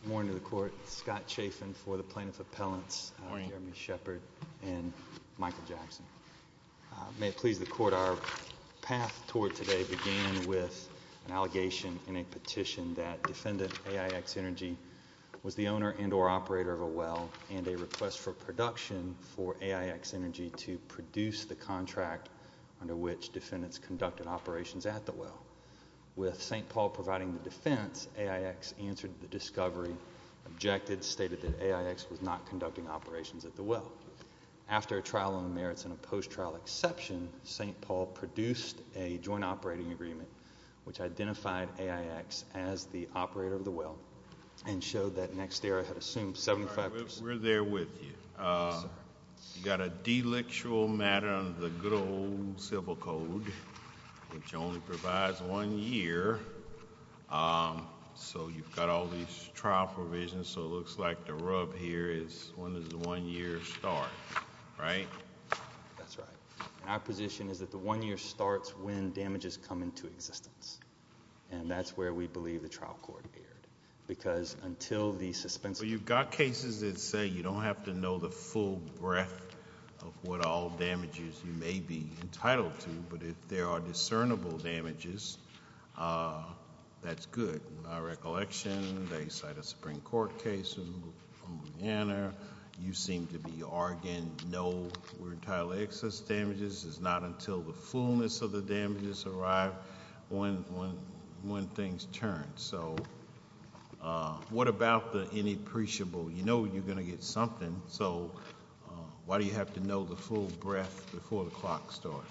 Good morning to the court. Scott Chafin for the Plaintiff Appellants, Jeremy Shephard and Michael Jackson. May it please the court, our path toward today began with an allegation in a petition that defendant AIX Energy was the owner and or operator of a well and a request for production for AIX Energy to produce the contract under which defendants conducted operations at the well. With St. Paul providing the defense, AIX answered the discovery, objected, stated that AIX was not conducting operations at the well. After a trial on the merits and a post-trial exception, St. Paul produced a joint operating agreement which identified AIX as the operator of the well and showed that NextEra had assumed 75%... We're there with you. You got a delictual matter under the good old Civil Code which only provides one year. So you've got all these trial provisions so it looks like the rub here is when does the one year start, right? That's right. Our position is that the one year starts when damages come into existence and that's where we believe the trial court appeared because until the suspense... You've got cases that say you don't have to know the full breadth of what all damages you may be entitled to, but if there are discernible damages, that's good. In my recollection, they cite a Supreme Court case in Louisiana. You seem to be arguing no, we're entitled to excess damages. It's not until the fullness of the damages arrive when things turn. So what about the inappreciable? You know you're going to get something so why do you have to know the full breadth before the clock starts?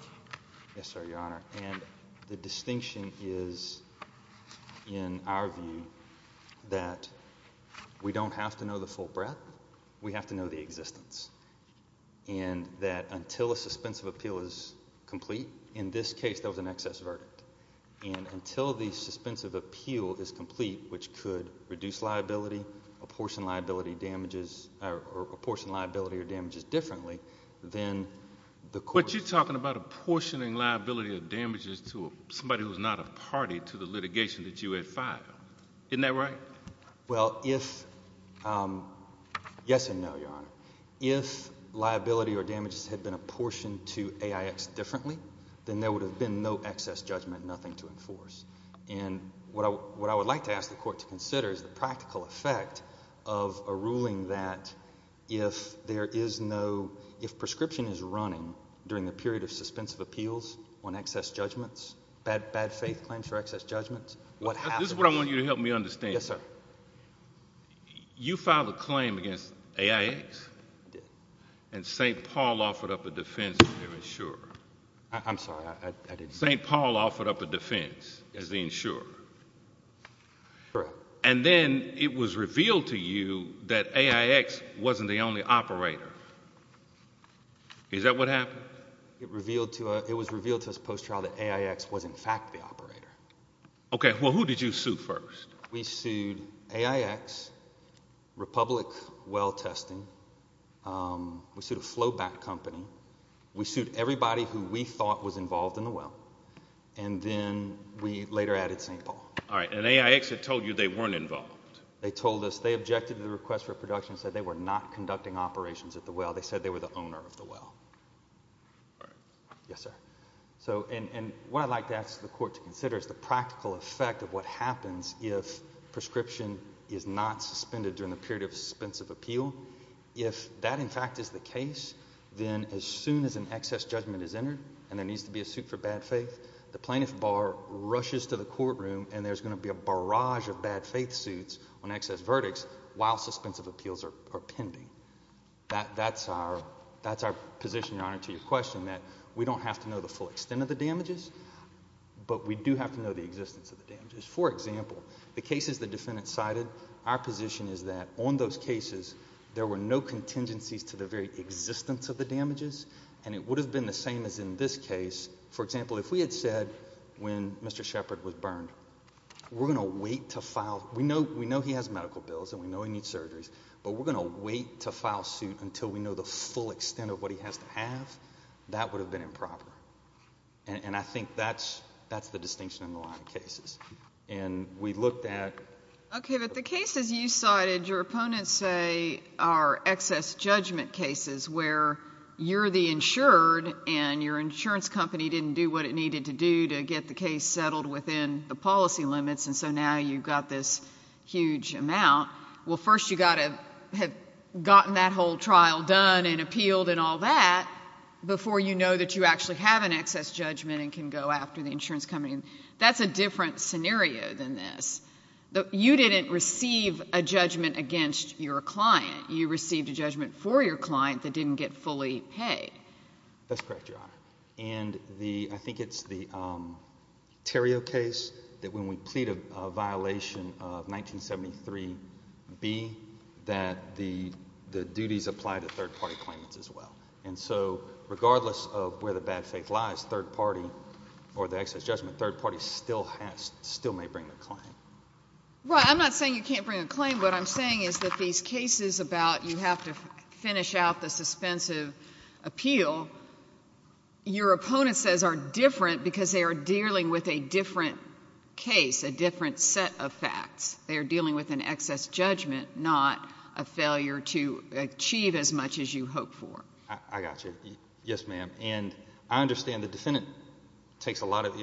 Yes, sir, your honor. And the distinction is, in our view, that we don't have to know the full breadth, we have to know the existence and that until a suspense of appeal is complete, in this case, there was an excess verdict. And until the suspense of appeal is complete, which could reduce liability, apportion liability or damages differently, then the court... But you're talking about apportioning liability of damages to somebody who's not a party to the litigation that you had filed. Isn't that right? Well, yes and no, your honor. If liability or damages had been apportioned to AIX differently, then there would have been no excess judgment, nothing to enforce. And what I would like to ask the court to consider is the ruling that if there is no, if prescription is running during the period of suspense of appeals on excess judgments, bad faith claims for excess judgments, what happens? This is what I want you to help me understand. Yes, sir. You filed a claim against AIX and St. Paul offered up a defense as the insurer. I'm sorry, I didn't hear that. St. Paul offered up a defense as the insurer. Correct. And then it was revealed to you that AIX wasn't the only operator. Is that what happened? It was revealed to us post trial that AIX was in fact the operator. Okay, well, who did you sue first? We sued AIX, Republic Well Testing, we sued a flowback company, we sued everybody who we thought was involved in the well, and then we later added St. Paul. All right, and AIX had told you they weren't involved. They told us, they objected to the request for production, said they were not conducting operations at the well, they said they were the owner of the well. Yes, sir. So, and what I'd like to ask the court to consider is the practical effect of what happens if prescription is not suspended during the period of suspensive appeal. If that in fact is the case, then as soon as an excess judgment is entered and there needs to be a suit for bad faith, the plaintiff bar rushes to the courtroom and there's going to be a barrage of bad faith suits on excess verdicts while suspensive appeals are pending. That's our position, Your Honor, to your question, that we don't have to know the full extent of the damages, but we do have to know the existence of the damages. For example, the cases the defendant cited, our position is that on those cases there were no contingencies to the very existence of the damages, and it would have been the same as in this case. For example, if we had said when Mr. Shepard was burned, we're going to wait to file, we know, we know he has medical bills and we know he needs surgeries, but we're going to wait to file suit until we know the full extent of what he has to have, that would have been improper. And I think that's, that's the distinction in a lot of cases. And we looked at. Okay, but the cases you cited, your opponents say, are excess judgment cases where you're the insured and your insurance company didn't do what it needed to do to get the case settled within the policy limits, and so now you've got this huge amount. Well, first you've got to have gotten that whole trial done and appealed and all that before you know that you actually have an excess judgment and can go after the insurance company. That's a different scenario than this. You didn't receive a judgment against your client. You received a judgment for your client that didn't get fully paid. That's correct, Your Honor. And the, I think it's the, um, Terrio case that when we plead a violation of 1973 B, that the duties apply to third party claimants as well. And so regardless of where the bad faith lies, third party or the excess judgment, third party still has still may bring the claim. Right. I'm not saying you can't bring a claim. What I'm saying is that these cases about you have to finish out the suspensive appeal your opponent says are different because they are dealing with a different case, a different set of facts. They're dealing with an excess judgment, not a failure to achieve as much as you hope for. I got you. Yes, ma'am. And I understand the defendant takes a lot of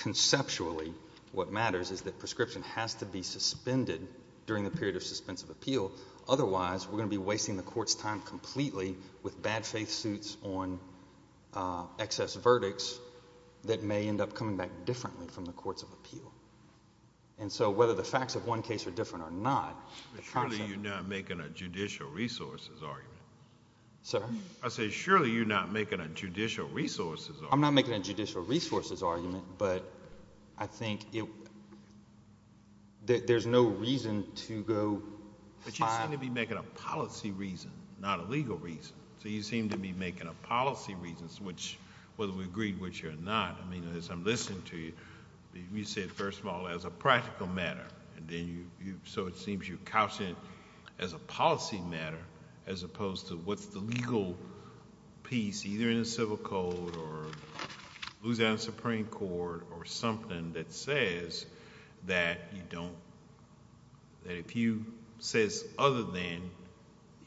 conceptually what matters is that prescription has to be suspended during the period of suspensive appeal. Otherwise we're gonna be wasting the court's time completely with bad faith suits on excess verdicts that may end up coming back differently from the courts of appeal. And so whether the facts of one case are different or not, surely you're not making a judicial resources argument, sir. I say, surely you're not making a judicial resources. I'm not I think it that there's no reason to go. But you seem to be making a policy reason, not a legal reason. So you seem to be making a policy reasons which whether we agreed which you're not. I mean, as I'm listening to you, you said, first of all, as a practical matter. And then you so it seems you couch it as a policy matter, as opposed to what's the legal piece, either in the civil code or Supreme Court or something that says that you don't that if you says other than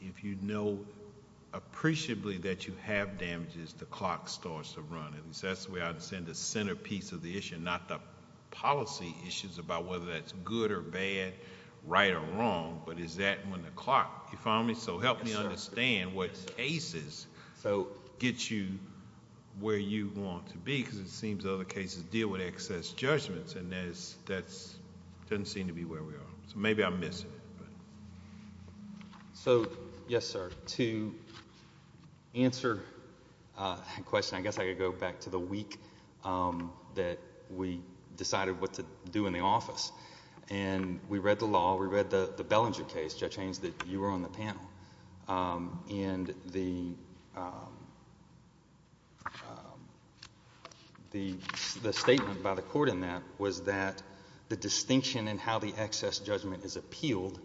if you know appreciably that you have damages, the clock starts to run. And that's the way I'd send the centerpiece of the issue, not the policy issues about whether that's good or bad, right or wrong. But is that when the clock you found me? So help me understand what cases so get you where you want to be, because it seems other cases deal with excess judgments. And there's that's doesn't seem to be where we are. So maybe I'm missing it. So, yes, sir. To answer question, I guess I could go back to the week that we decided what to do in the office. And we read the law. We read the Bellinger case. Judge Haynes, that you were on the panel. Um, and the um, the statement by the court in that was that the distinction and how the excess judgment is appealed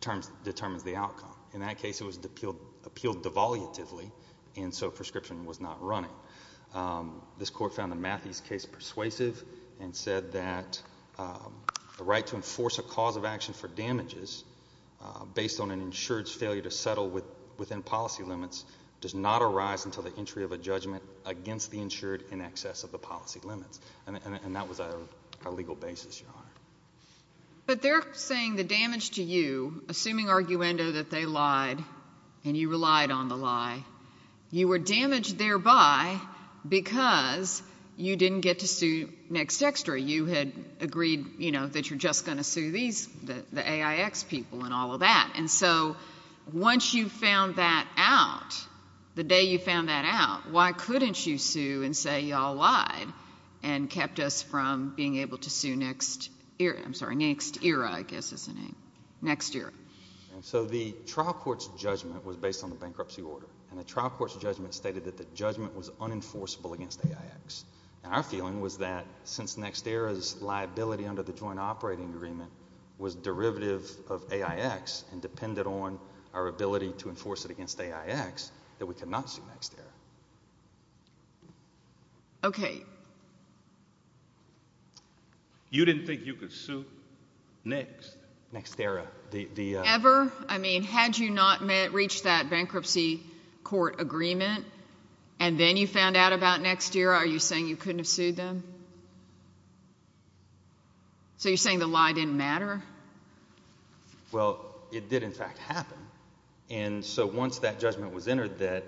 terms determines the outcome. In that case, it was appealed, appealed devolutively. And so prescription was not running. Um, this court found the Matthews case persuasive and said that, um, the right to enforce a cause of action for damages based on an insured failure to settle within policy limits does not arise until the entry of a judgment against the insured in excess of the policy limits. And that was a legal basis. But they're saying the damage to you, assuming arguendo that they lied and you relied on the lie. You were damaged thereby because you didn't get to sue next extra. You had agreed, you know that you're just gonna sue these the you found that out the day you found that out, why couldn't you sue and say y'all lied and kept us from being able to sue next era. I'm sorry. Next era. I guess is the name next year. So the trial court's judgment was based on the bankruptcy order, and the trial court's judgment stated that the judgment was unenforceable against A. I. X. And our feeling was that since next era's liability under the joint operating agreement was derivative of A. I. X. And depended on our ability to enforce it against A. I. X. That we could not see next year. Okay. You didn't think you could sue next next era ever. I mean, had you not reach that bankruptcy court agreement and then you found out about next year, are you saying you couldn't have sued them? So you're saying the lie didn't matter. Well, it did, in fact, happen. And so once that judgment was entered, that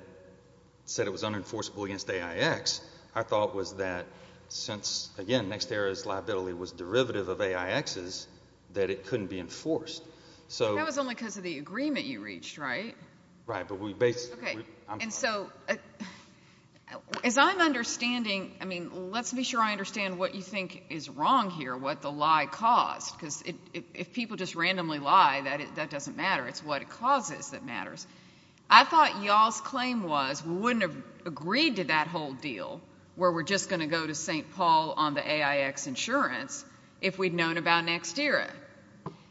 said it was unenforceable against A. I. X. I thought was that since again, next era's liability was derivative of A. I. X. Is that it couldn't be enforced. So that was only because of the agreement you reached, right? Right. But we basically. And so as I'm understanding, I mean, let's be sure I understand what you think is lie caused because if people just randomly lie that that doesn't matter, it's what it causes that matters. I thought y'all's claim was we wouldn't have agreed to that whole deal where we're just going to go to ST Paul on the A. I. X. Insurance if we'd known about next era.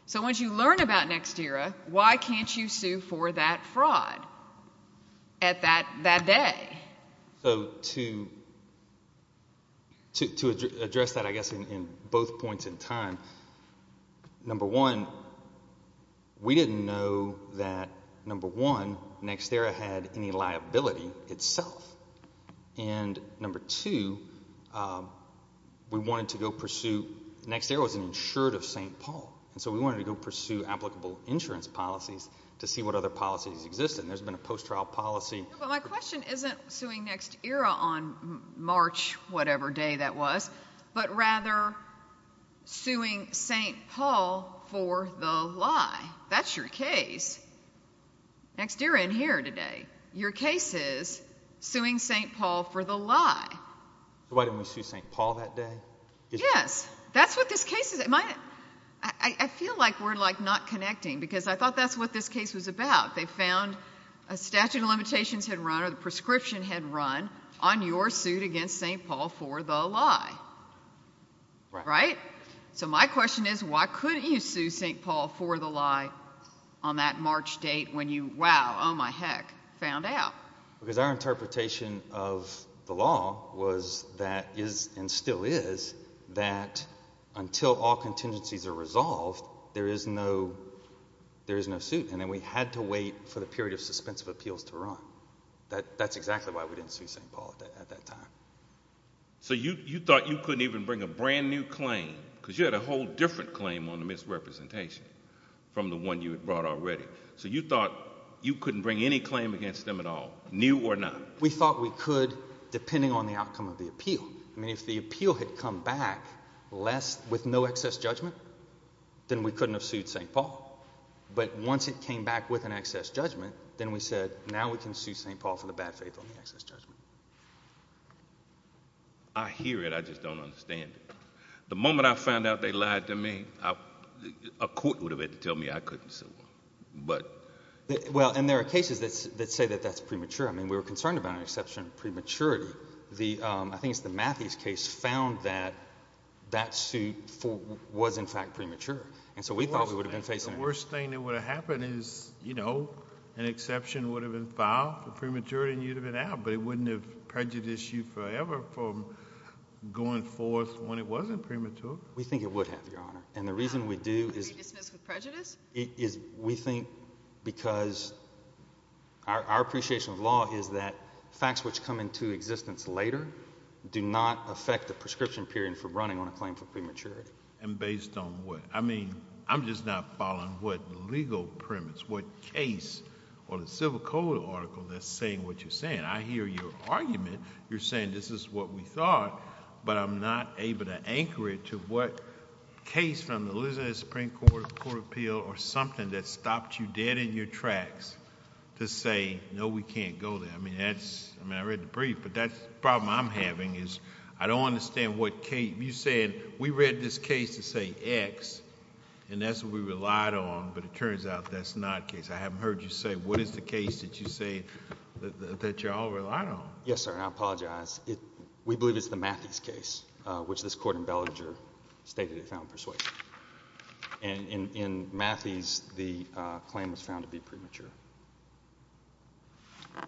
So once you learn about next era, why can't you sue for that fraud at that that day? So to to address that, I guess, in both points in time, number one, we didn't know that number one next era had any liability itself. And number two, we wanted to go pursue next. There was an insured of ST Paul. And so we wanted to go pursue applicable insurance policies to see what other policies exist. And there's been a post trial policy. But my question isn't suing next era on March, whatever day that was, but rather suing ST Paul for the lie. That's your case. Next year in here today, your case is suing ST Paul for the lie. Why didn't we see ST Paul that day? Yes, that's what this case is. I feel like we're like not connecting because I thought that's what this case was about. They had run on your suit against ST Paul for the lie. Right. So my question is, why couldn't you sue ST Paul for the lie on that March date when you Wow. Oh, my heck found out because our interpretation of the law was that is and still is that until all contingencies are resolved, there is no there is no suit. And then we had to wait for the period of didn't see ST Paul at that time. So you thought you couldn't even bring a brand new claim because you had a whole different claim on the misrepresentation from the one you had brought already. So you thought you couldn't bring any claim against them at all, knew or not. We thought we could, depending on the outcome of the appeal. I mean, if the appeal had come back less with no excess judgment, then we couldn't have sued ST Paul. But once it came back with an excess judgment, then we said, Now we can see ST Paul for the bad faith on the excess judgment. I hear it. I just don't understand. The moment I found out they lied to me, a court would have had to tell me I couldn't. But well, and there are cases that say that that's premature. I mean, we're concerned about an exception. Prematurity. The I think it's the Matthews case found that that suit was, in fact, premature. And so we thought we would have been facing the worst thing would have happened is, you know, an exception would have been filed for prematurity and you'd have been out. But it wouldn't have prejudice you forever from going forth when it wasn't premature. We think it would have, Your Honor. And the reason we do is we think because our appreciation of law is that facts which come into existence later do not affect the prescription period for running on a claim for prematurity. And based on what? I mean, I'm just not following what legal premise, what case or the civil code article that's saying what you're saying. I hear your argument. You're saying this is what we thought, but I'm not able to anchor it to what case from the Liz's Supreme Court Court appeal or something that stopped you dead in your tracks to say, No, we can't go there. I mean, that's I mean, I read the brief, but that's problem I'm having is I don't understand what came. You said we read this case to say X and that's what we relied on. But it turns out that's not case. I haven't heard you say what is the case that you say that y'all relied on? Yes, sir. And I apologize. We believe it's the Matthews case, which this court in Bellinger stated it found persuasive. And in Matthews, the claim was found to be premature. Yeah.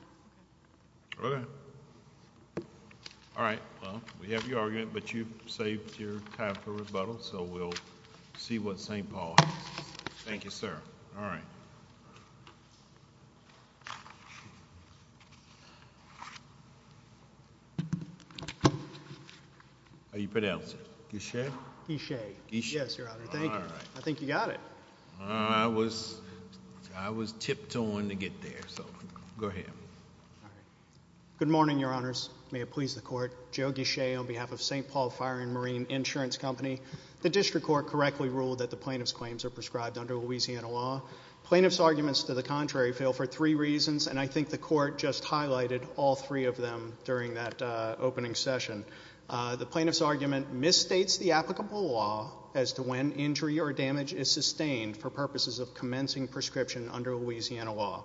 Okay. All right. Well, we have your argument, but you saved your time for rebuttal. So we'll see what ST Paul. Thank you, sir. All right. Are you pronounce it? You share? He shake. Yes, Your Honor. Thank you. I was. I was tipped on to get there. So go ahead. Good morning, Your Honors. May it please the court. Jogi Shay on behalf of ST Paul Fire and Marine Insurance Company. The district court correctly ruled that the plaintiff's claims are prescribed under Louisiana law plaintiff's arguments to the contrary fail for three reasons, and I think the court just highlighted all three of them. During that opening session, the plaintiff's argument misstates the applicable law as to when injury or commencing prescription under Louisiana law.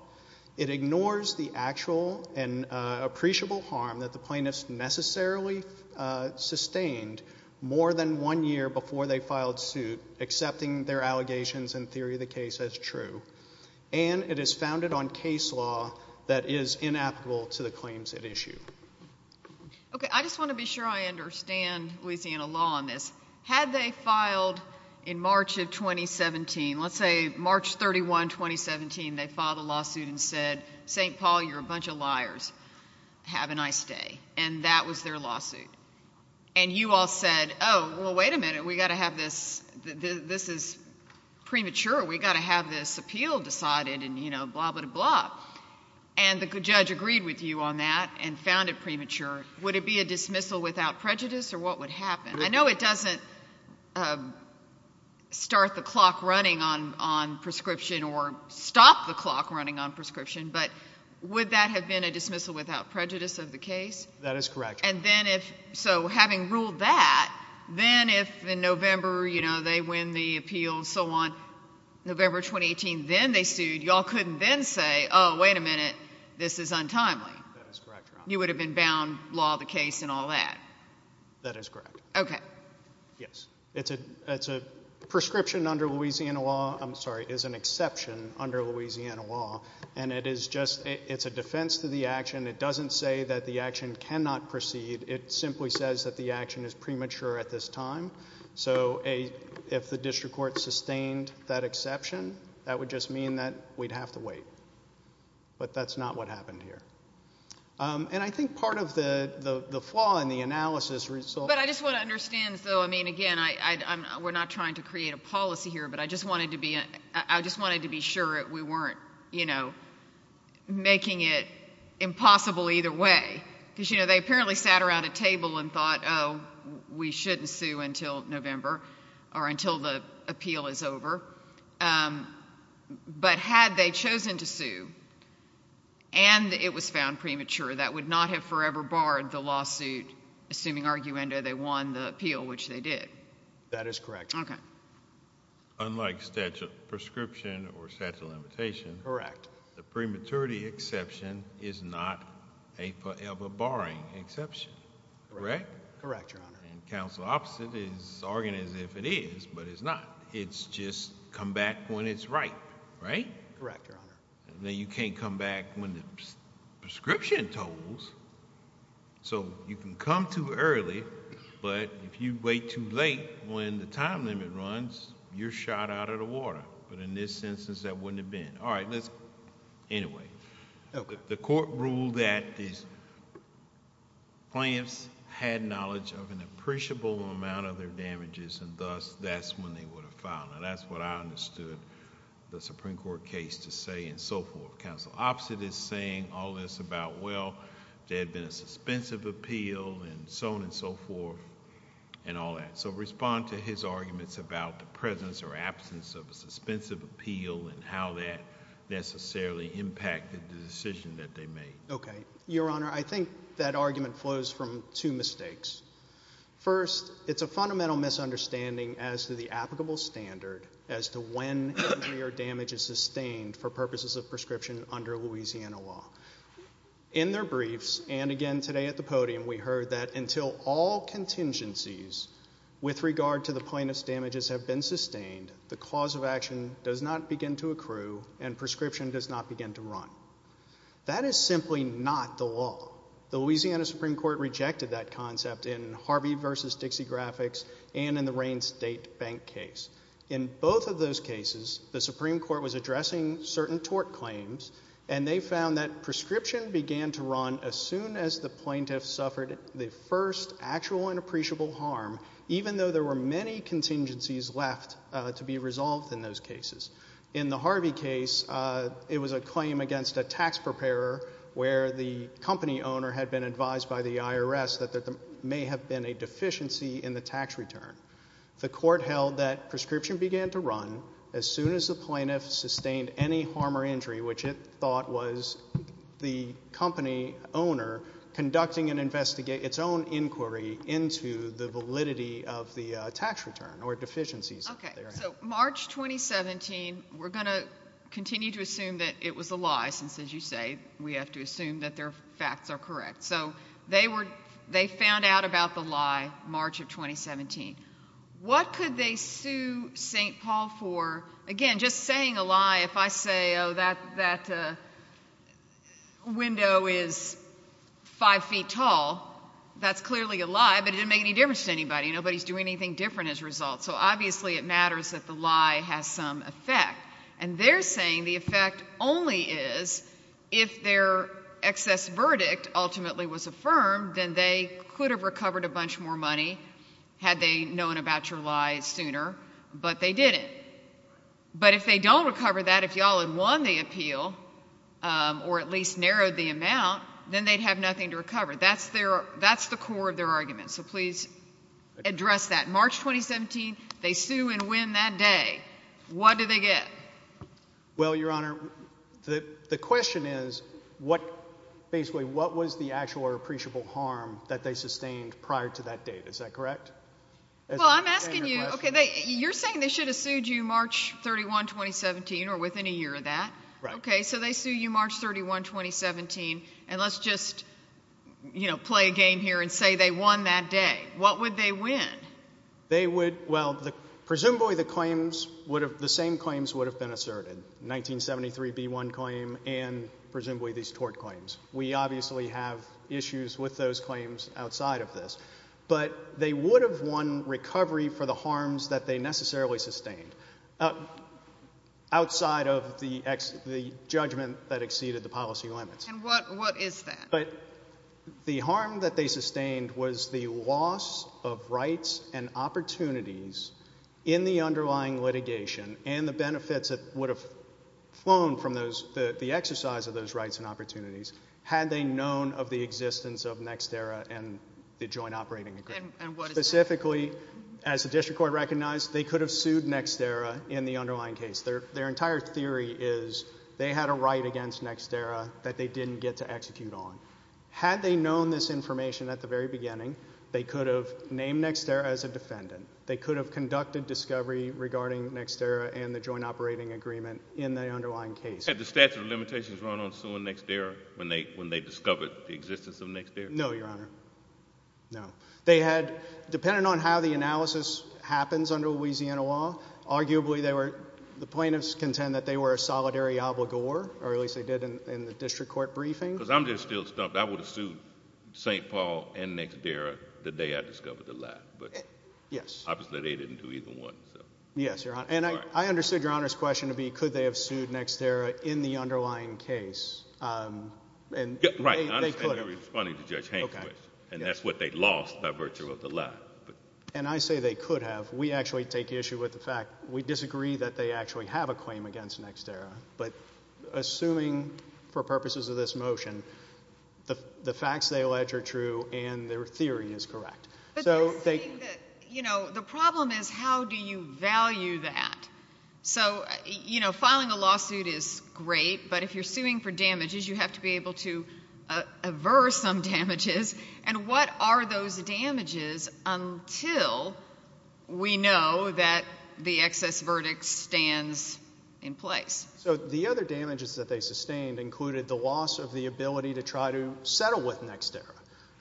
It ignores the actual and appreciable harm that the plaintiff's necessarily sustained more than one year before they filed suit, accepting their allegations and theory of the case as true. And it is founded on case law that is inapplicable to the claims at issue. Okay. I just want to be sure I understand Louisiana law on this. Had they filed in March of 2017? Let's say March 31, 2017. They filed a lawsuit and said, ST Paul, you're a bunch of liars. Have a nice day. And that was their lawsuit. And you all said, Oh, well, wait a minute. We've got to have this. This is premature. We've got to have this appeal decided. And, you know, blah, blah, blah. And the judge agreed with you on that and found it premature. Would it be a dismissal without prejudice? Or what would happen? I know it doesn't, um, start the clock running on on prescription or stop the clock running on prescription. But would that have been a dismissal without prejudice of the case? That is correct. And then if so, having ruled that, then if in November, you know, they win the appeal and so on. November 2018. Then they sued. Y'all couldn't then say, Oh, wait a minute. This is untimely. You would have been bound law, the case and all that. That is correct. Okay? Yes. It's a It's a prescription under Louisiana law. I'm sorry is an exception under Louisiana law, and it is just it's a defense to the action. It doesn't say that the action cannot proceed. It simply says that the action is premature at this time. So if the district court sustained that exception, that would just mean that we'd have to wait. But that's not what happened here. Um, and I think part of the flaw in the analysis result. But I just want to understand, though. I mean, again, I were not trying to create a policy here, but I just wanted to be. I just wanted to be sure we weren't, you know, making it impossible either way. Because, you know, they apparently sat around a table and thought, Oh, we shouldn't sue until November or until the appeal is over. Um, but had they chosen to sue and it was found premature, that would not have forever barred the lawsuit. Assuming arguendo, they won the appeal, which they did. That is correct. Okay. Unlike statute prescription or statute limitation. Correct. The prematurity exception is not a forever barring exception. Correct? Correct. Your Honor. And counsel opposite is arguing as if it is, but it's not. It's just come back when it's right, right? Correct. Your Honor. You can't come back when the prescription tolls so you can come too early. But if you wait too late, when the time limit runs, you're shot out of the water. But in this instance, that wouldn't have been all right. Let's anyway, the court ruled that these plants had knowledge of an appreciable amount of their damages, and thus that's when they would have found. And that's what I understood the Supreme Court case to say and so forth. Counsel opposite is saying all this about. Well, there had been a suspensive appeal and so on and so forth and all that. So respond to his arguments about the presence or absence of a suspensive appeal and how that necessarily impacted the decision that they made. Okay, Your Honor. I think that argument flows from two mistakes. First, it's a fundamental misunderstanding as to the applicable standard as to when your damage is sustained for purposes of prescription under Louisiana law. In their briefs and again today at the podium, we heard that until all contingencies with regard to the plaintiff's damages have been sustained, the cause of action does not begin to accrue and prescription does not begin to run. That is simply not the law. The Louisiana Supreme Court rejected that concept in Harvey versus Dixie Graphics and in the Rain State Bank case. In both of those cases, the Supreme Court was addressing certain tort claims and they found that prescription began to run as soon as the plaintiff suffered the first actual and appreciable harm, even though there were many contingencies left to be resolved in those cases. In the Harvey case, it was a claim against a tax preparer where the IRS that there may have been a deficiency in the tax return. The court held that prescription began to run as soon as the plaintiff sustained any harm or injury, which it thought was the company owner conducting and investigate its own inquiry into the validity of the tax return or deficiencies. Okay, so March 2017, we're going to continue to assume that it was a lie, since, as you say, we have to assume that their facts are correct. So they found out about the lie March of 2017. What could they sue St. Paul for? Again, just saying a lie, if I say, oh, that window is five feet tall, that's clearly a lie, but it didn't make any difference to anybody. Nobody's doing anything different as a result. So obviously it matters that the lie has some effect. And they're saying the effect only is if their excess verdict ultimately was affirmed, then they could have recovered a bunch more money had they known about your lie sooner, but they didn't. But if they don't recover that, if y'all had won the appeal or at least narrowed the amount, then they'd have nothing to recover. That's the core of their argument. So please address that. March 2017, they sue and win that day. What do they get? Well, Your Honor, the question is, basically, what was the actual or appreciable harm that they sustained prior to that date? Is that correct? Well, I'm asking you, okay, you're saying they should have sued you March 31, 2017 or within a year of that. Right. Okay, so they sue you March 31, 2017, and let's just, you know, play a game here and say they won that day. What would they win? They would, well, presumably the claims would have, the same claims would have been asserted, 1973b1 claim and presumably these tort claims. We obviously have issues with those claims outside of this, but they would have won recovery for the harms that they necessarily sustained outside of the judgment that exceeded the policy limits. And what is that? But the harm that they sustained was the loss of rights and opportunities in the underlying litigation and the benefits that would have flown from those, the exercise of those rights and opportunities, had they known of the existence of Nextera and the Joint Operating Agreement. And what is that? Specifically, as the District Court recognized, they could have sued Nextera in the underlying case. Their entire theory is they had a right against Nextera that they didn't get to execute on. Had they known this information at the very beginning, they could have named Nextera as a defendant. They could have conducted discovery regarding Nextera and the Joint Operating Agreement in the underlying case. Had the statute of limitations run on suing Nextera when they, when they discovered the existence of Nextera? No, Your Honor. No. They had, depending on how the analysis happens under Louisiana law, arguably they were, the plaintiffs contend that they were a solidary obligor, or at least they did in the District Court briefing. Because I'm just still stumped. I would have sued St. Paul and Nextera the day I discovered the lie. But, yes, obviously they didn't do either one. Yes, Your Honor. And I understood Your Honor's question to be, could they have sued Nextera in the underlying case? And, right, I understand you're responding to Judge Hainquist. And that's what they lost by virtue of the lie. And I say they could have. We actually take issue with the fact, we disagree that they actually have a claim against Nextera. But assuming, for purposes of this motion, the, the facts they allege are true and their theory is correct. But they're saying that, you know, the problem is, how do you value that? So, you know, filing a lawsuit is great, but if you're suing for damages, you have to be able to aver some damages. And what are those damages until we know that the excess verdict stands in place? So the other damages that they sustained included the loss of the ability to try to settle with Nextera.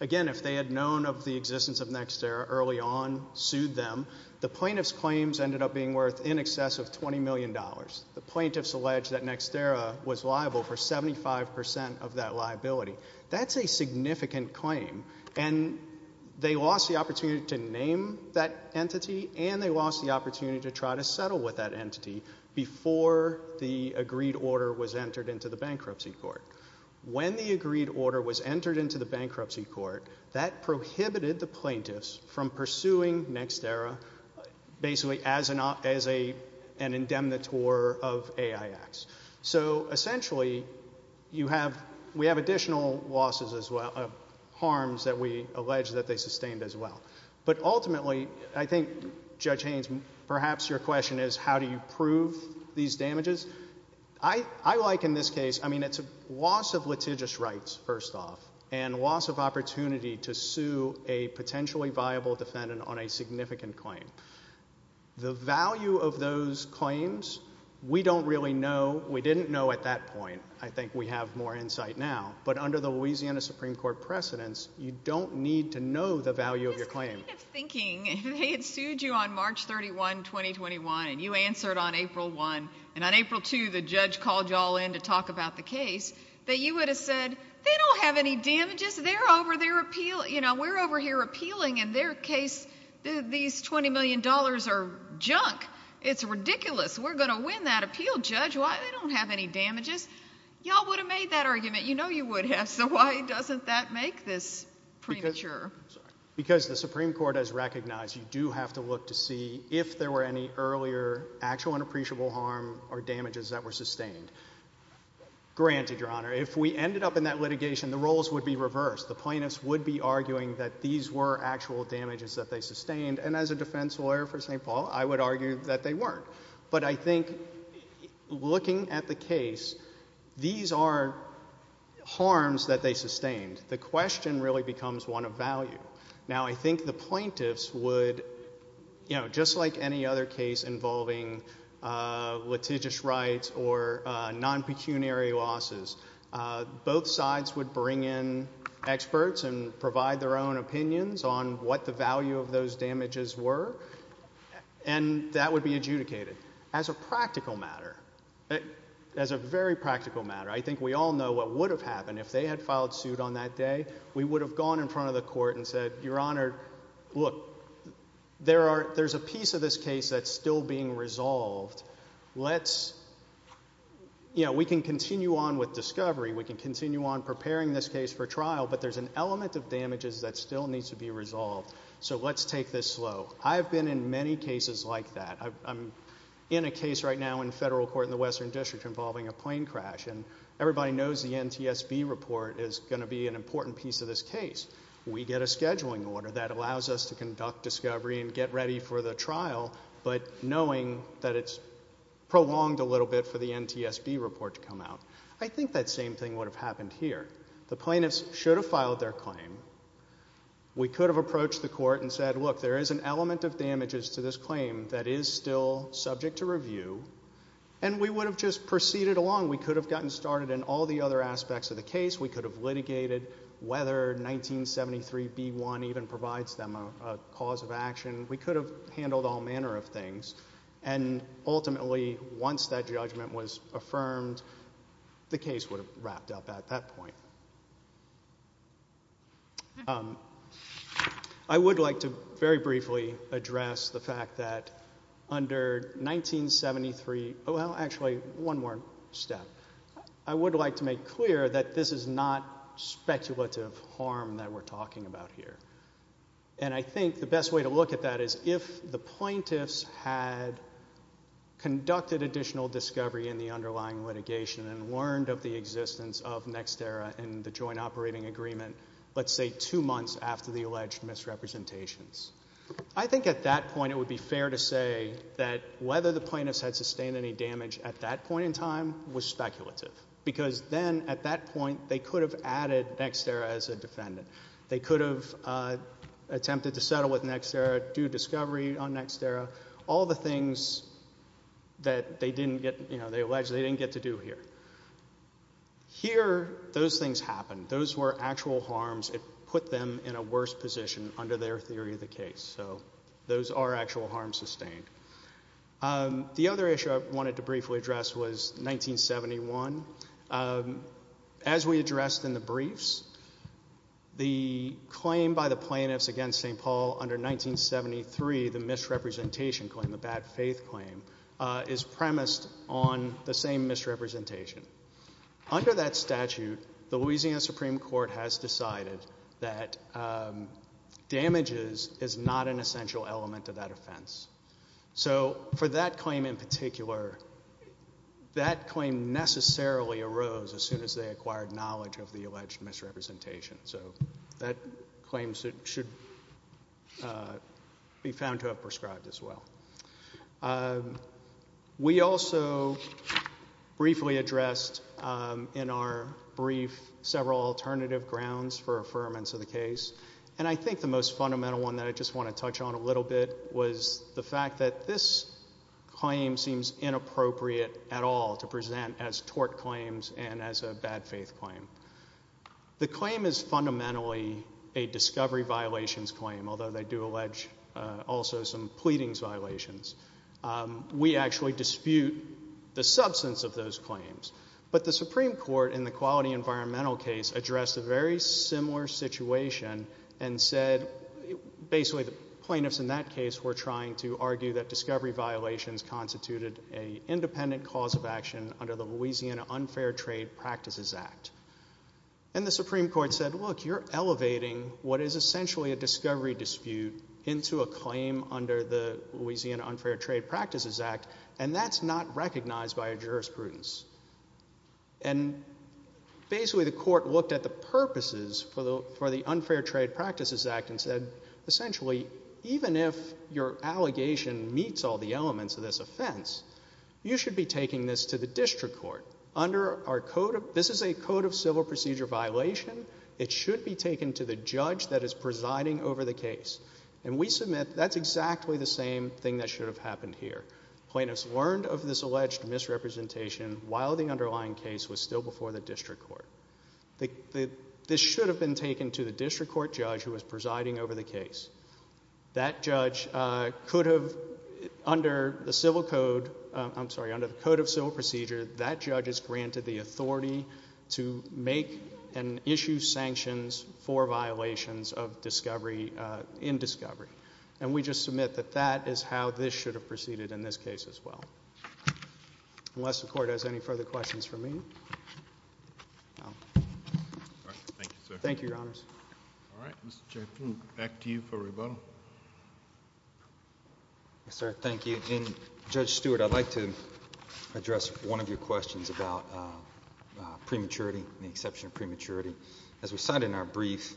Again, if they had known of the existence of Nextera early on, sued them. The plaintiff's claims ended up being worth in excess of $20 million. The plaintiffs allege that Nextera was liable for 75% of that liability. That's a significant claim. And they lost the opportunity to try to settle with that entity before the agreed order was entered into the bankruptcy court. When the agreed order was entered into the bankruptcy court, that prohibited the plaintiffs from pursuing Nextera basically as an, as a, an indemnitor of AIX. So essentially, you have, we have additional losses as well, of harms that we allege that they sustained as well. But ultimately, I think Judge Haynes, perhaps your question is, how do you prove these damages? I, I like in this case, I mean, it's a loss of litigious rights, first off, and loss of opportunity to sue a potentially viable defendant on a significant claim. The value of those claims, we don't really know. We didn't know at that point. I think we have more insight now. But under the Louisiana Supreme Court precedents, you don't need to know the facts to look to see if there were any earlier actual and appreciable harm or damages that were sustained. Granted, Your Honor, if we ended up in that litigation, the roles would be reversed. The plaintiffs would be arguing that these were actual damages that they sustained. And as a defense lawyer for St. Paul, I would argue that they weren't. But I think looking at the case, these are harms that they sustained. The question really becomes one of value. Now, I think the plaintiffs would, you know, just like any other case involving litigious rights or non-pecuniary losses, both sides would bring in experts and provide their own opinions on what the value of those damages were. And that would be adjudicated. As a plaintiff, you would have gone in front of the court and said, Your Honor, look, there's a piece of this case that's still being resolved. Let's, you know, we can continue on with discovery. We can continue on preparing this case for trial. But there's an element of damages that still needs to be resolved. So let's take this slow. I've been in many cases like that. I'm in a case right now in federal court in the Western District involving a plane crash. And everybody knows the NTSB report is going to be an important piece of this case. We get a scheduling order that allows us to conduct discovery and get ready for the trial, but knowing that it's prolonged a little bit for the NTSB report to come out. I think that same thing would have happened here. The plaintiffs should have filed their claim. We could have approached the court and said, Look, there is an element of damages to this claim that is still subject to review. And we would have just proceeded along. We could have gotten started in all the other aspects of the case. We could have litigated whether 1973B1 even provides them a cause of action. We could have handled all manner of things. And ultimately, once that judgment was affirmed, the case would have wrapped up at that point. I would like to very briefly address the fact that under 1973, well, actually, one more step. I would like to make clear that this is not speculative harm that we're talking about here. And I think the best way to look at that is if the plaintiffs had conducted additional discovery in the underlying litigation and learned of the damage in the joint operating agreement, let's say two months after the alleged misrepresentations, I think at that point it would be fair to say that whether the plaintiffs had sustained any damage at that point in time was speculative. Because then, at that point, they could have added Nexterra as a defendant. They could have attempted to Those were actual harms. It put them in a worse position under their theory of the case. So those are actual harms sustained. The other issue I wanted to briefly address was 1971. As we addressed in the briefs, the claim by the plaintiffs against St. Paul under 1973, the misrepresentation claim, the bad faith claim, is premised on the same misrepresentation. Under that statute, the Louisiana Supreme Court has decided that damages is not an essential element of that offense. So for that claim in particular, that claim necessarily arose as soon as they acquired knowledge of the alleged misrepresentation. So that claim should be found to have prescribed as well. We also briefly addressed in our brief several alternative grounds for affirmance of the case. And I think the most fundamental one that I just want to touch on a little bit was the fact that this claim seems inappropriate at all to present as tort claims and as a bad faith claim. The claim is fundamentally a discovery violations claim, although they do allege also some pleadings violations. We actually dispute the substance of those claims. But the Supreme Court in the quality environmental case addressed a very similar situation and said basically the plaintiffs in that case were trying to argue that discovery violations constituted an independent cause of action under the Louisiana Unfair Trade Practices Act. And the Supreme Court said, look, you're elevating what is essentially a discovery dispute into a claim under the Louisiana Unfair Trade Practices Act, and that's not recognized by our jurisprudence. And basically the court looked at the purposes for the Unfair Trade Practices Act and said, essentially, even if your allegation meets all the elements of this offense, you should be taking this to the district court under our code. This is a code of civil procedure violation. It should be taken to the judge that is presiding over the case. And we submit that's exactly the same thing that should have happened here. Plaintiffs learned of this alleged misrepresentation while the underlying case was still before the district court. This should have been taken to the district court judge who was presiding over the case. That judge could have, under the civil code, I'm sorry, under the code of civil procedure, that judge is granted the authority to make and issue sanctions for violations of discovery, in discovery. And we just submit that that is how this should have proceeded in this case as well. Unless the court has any further questions for me. All right. Thank you, sir. Thank you, Your Honors. All right. Mr. Chaffin, back to you for rebuttal. Yes, sir. Thank you. And Judge Stewart, I'd like to address one of your questions about prematurity and the exception of prematurity. As we cited in our brief,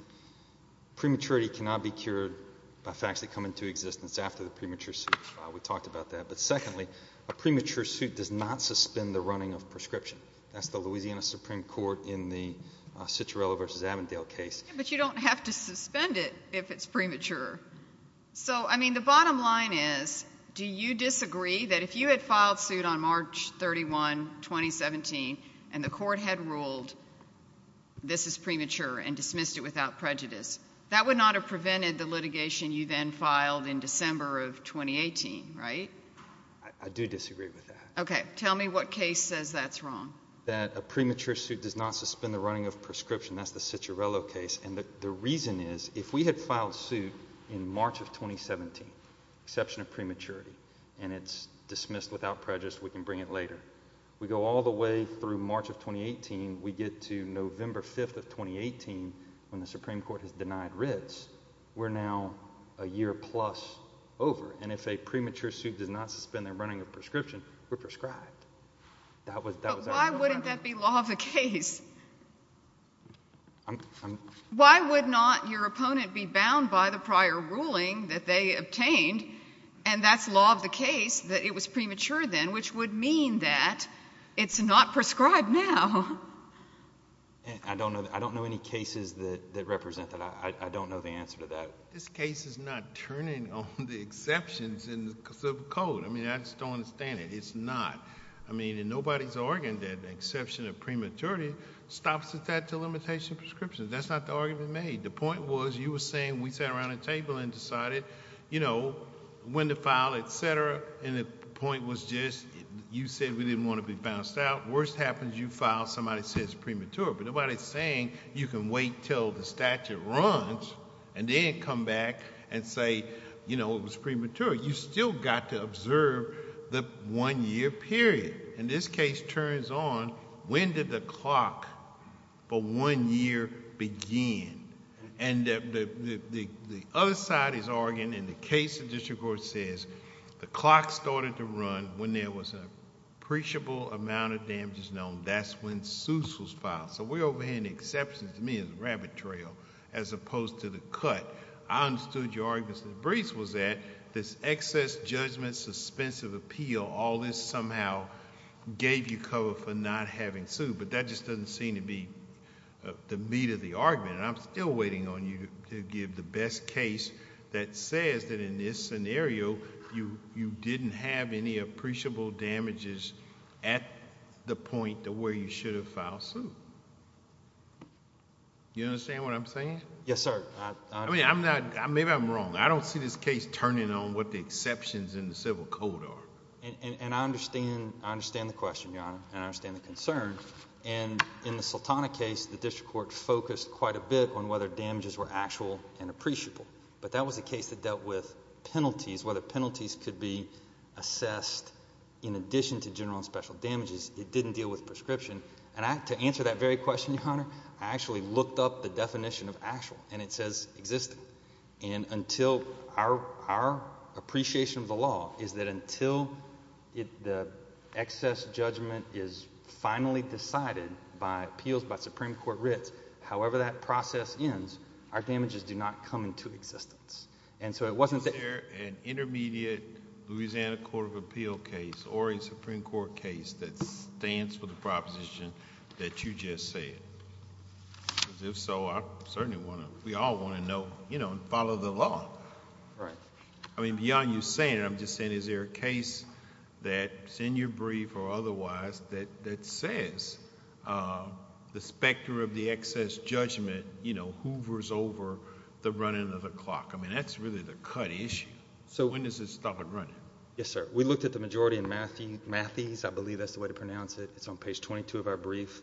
prematurity cannot be cured by facts that come into existence after the premature suit. We talked about that. But secondly, a premature suit does not suspend the running of prescription. That's the Louisiana Supreme Court in the Citroen versus Avondale case. But you don't have to suspend it if it's premature. So, I mean, the bottom line is, do you disagree that if you had filed suit on March 31, 2017, and the court had ruled this is premature and dismissed it without prejudice, that would not have prevented the litigation you then filed in December of 2018, right? I do disagree with that. Okay. Tell me what case says that's wrong. That a premature suit does not suspend the running of prescription. That's the Citroen case. And the reason is, if we had filed suit in March of 2017, exception of prematurity, and it's dismissed without prejudice, we can bring it later. We go all the way through March of 2018, we get to November 5th of 2018 when the Supreme Court has denied writs. We're now a year plus over. And if a premature suit does not suspend the running of prescription, we're prescribed. But why wouldn't that be law of the case? I'm... Why would not your opponent be bound by the prior ruling that they obtained, and that's law of the case, that it was premature then, which would mean that it's not prescribed now? I don't know any cases that represent that. I don't know the answer to that. But this case is not turning on the exceptions in the code. I mean, I just don't understand it. It's not. I mean, and nobody's arguing that the exception of prematurity stops the statute of limitation of prescription. That's not the argument made. The point was you were saying we sat around a table and decided, you know, when to file, et cetera, and the point was just you said we didn't want to be bounced out. Worst happens you file, somebody says premature, but nobody's saying you can wait until the statute runs and then come back and say, you know, it was premature. You still got to observe the one-year period. And this case turns on, when did the clock for one year begin? And the other side is arguing in the case the district court says the clock started to run when there was an appreciable amount of damages known. That's when suits was filed. So we're overheading the exceptions to me as a rabbit trail as opposed to the cut. I understood your argument, Mr. DeBriese, was that this excess judgment, suspensive appeal, all this somehow gave you cover for not having sued, but that just doesn't seem to be the meat of the argument. And I'm still waiting on you to give the best case that says that in this scenario you didn't have any appreciable damages at the point to where you should have filed suit. You understand what I'm saying? Yes, sir. I mean, maybe I'm wrong. I don't see this case turning on what the exceptions in the civil code are. And I understand the question, Your Honor, and I understand the concern. And in the Sultana case, the district court focused quite a bit on whether damages were actual and appreciable. But that was a case that dealt with penalties, whether penalties could be assessed in addition to general and special damages. It didn't deal with prescription. And to answer that very question, Your Honor, I actually looked up the definition of actual, and it says existing. And until our appreciation of the law is that until the excess judgment is finally decided by appeals by Supreme Court writs, however that process ends, our damages do not come into existence. And so it wasn't that— Is there an intermediate Louisiana court of appeal case or a Supreme Court case that stands for the proposition that you just said? Because if so, I certainly want to—we all want to know and follow the law. Right. I mean, beyond you saying it, I'm just saying is there a case that's in your brief or otherwise that says the specter of the excess judgment hoovers over the running of the clock? I mean, that's really the cut issue. So— When does it stop it running? Yes, sir. We looked at the majority in Matthews. I believe that's the way to pronounce it. It's on page 22 of our brief,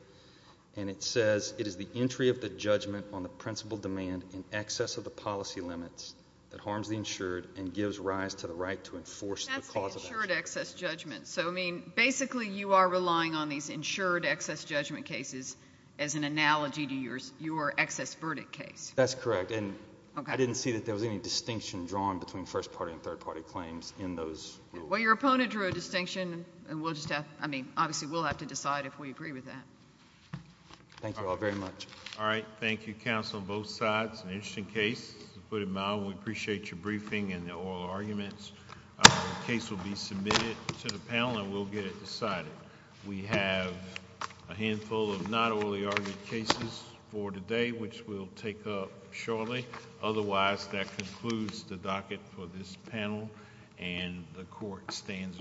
and it says it is the entry of the judgment on the principal demand in excess of the policy limits that harms the insured and gives rise to the right to enforce the cause of that judgment. That's the insured excess judgment. So, I mean, basically you are relying on these insured excess judgment cases as an analogy to your excess verdict case. That's correct. And I didn't see that there was any distinction drawn between First Party and Third Party claims in those rules. Well, your opponent drew a distinction, and we'll just have—I mean, obviously we'll have to decide if we agree with that. Thank you all very much. All right. Thank you, counsel, on both sides. It's an interesting case to put it mildly. We appreciate your briefing and the oral arguments. The case will be submitted to the panel, and we'll get it decided. We have a handful of not orally argued cases for today, which we'll take up shortly. Otherwise, that concludes the docket for this panel, and the Court stands adjourned.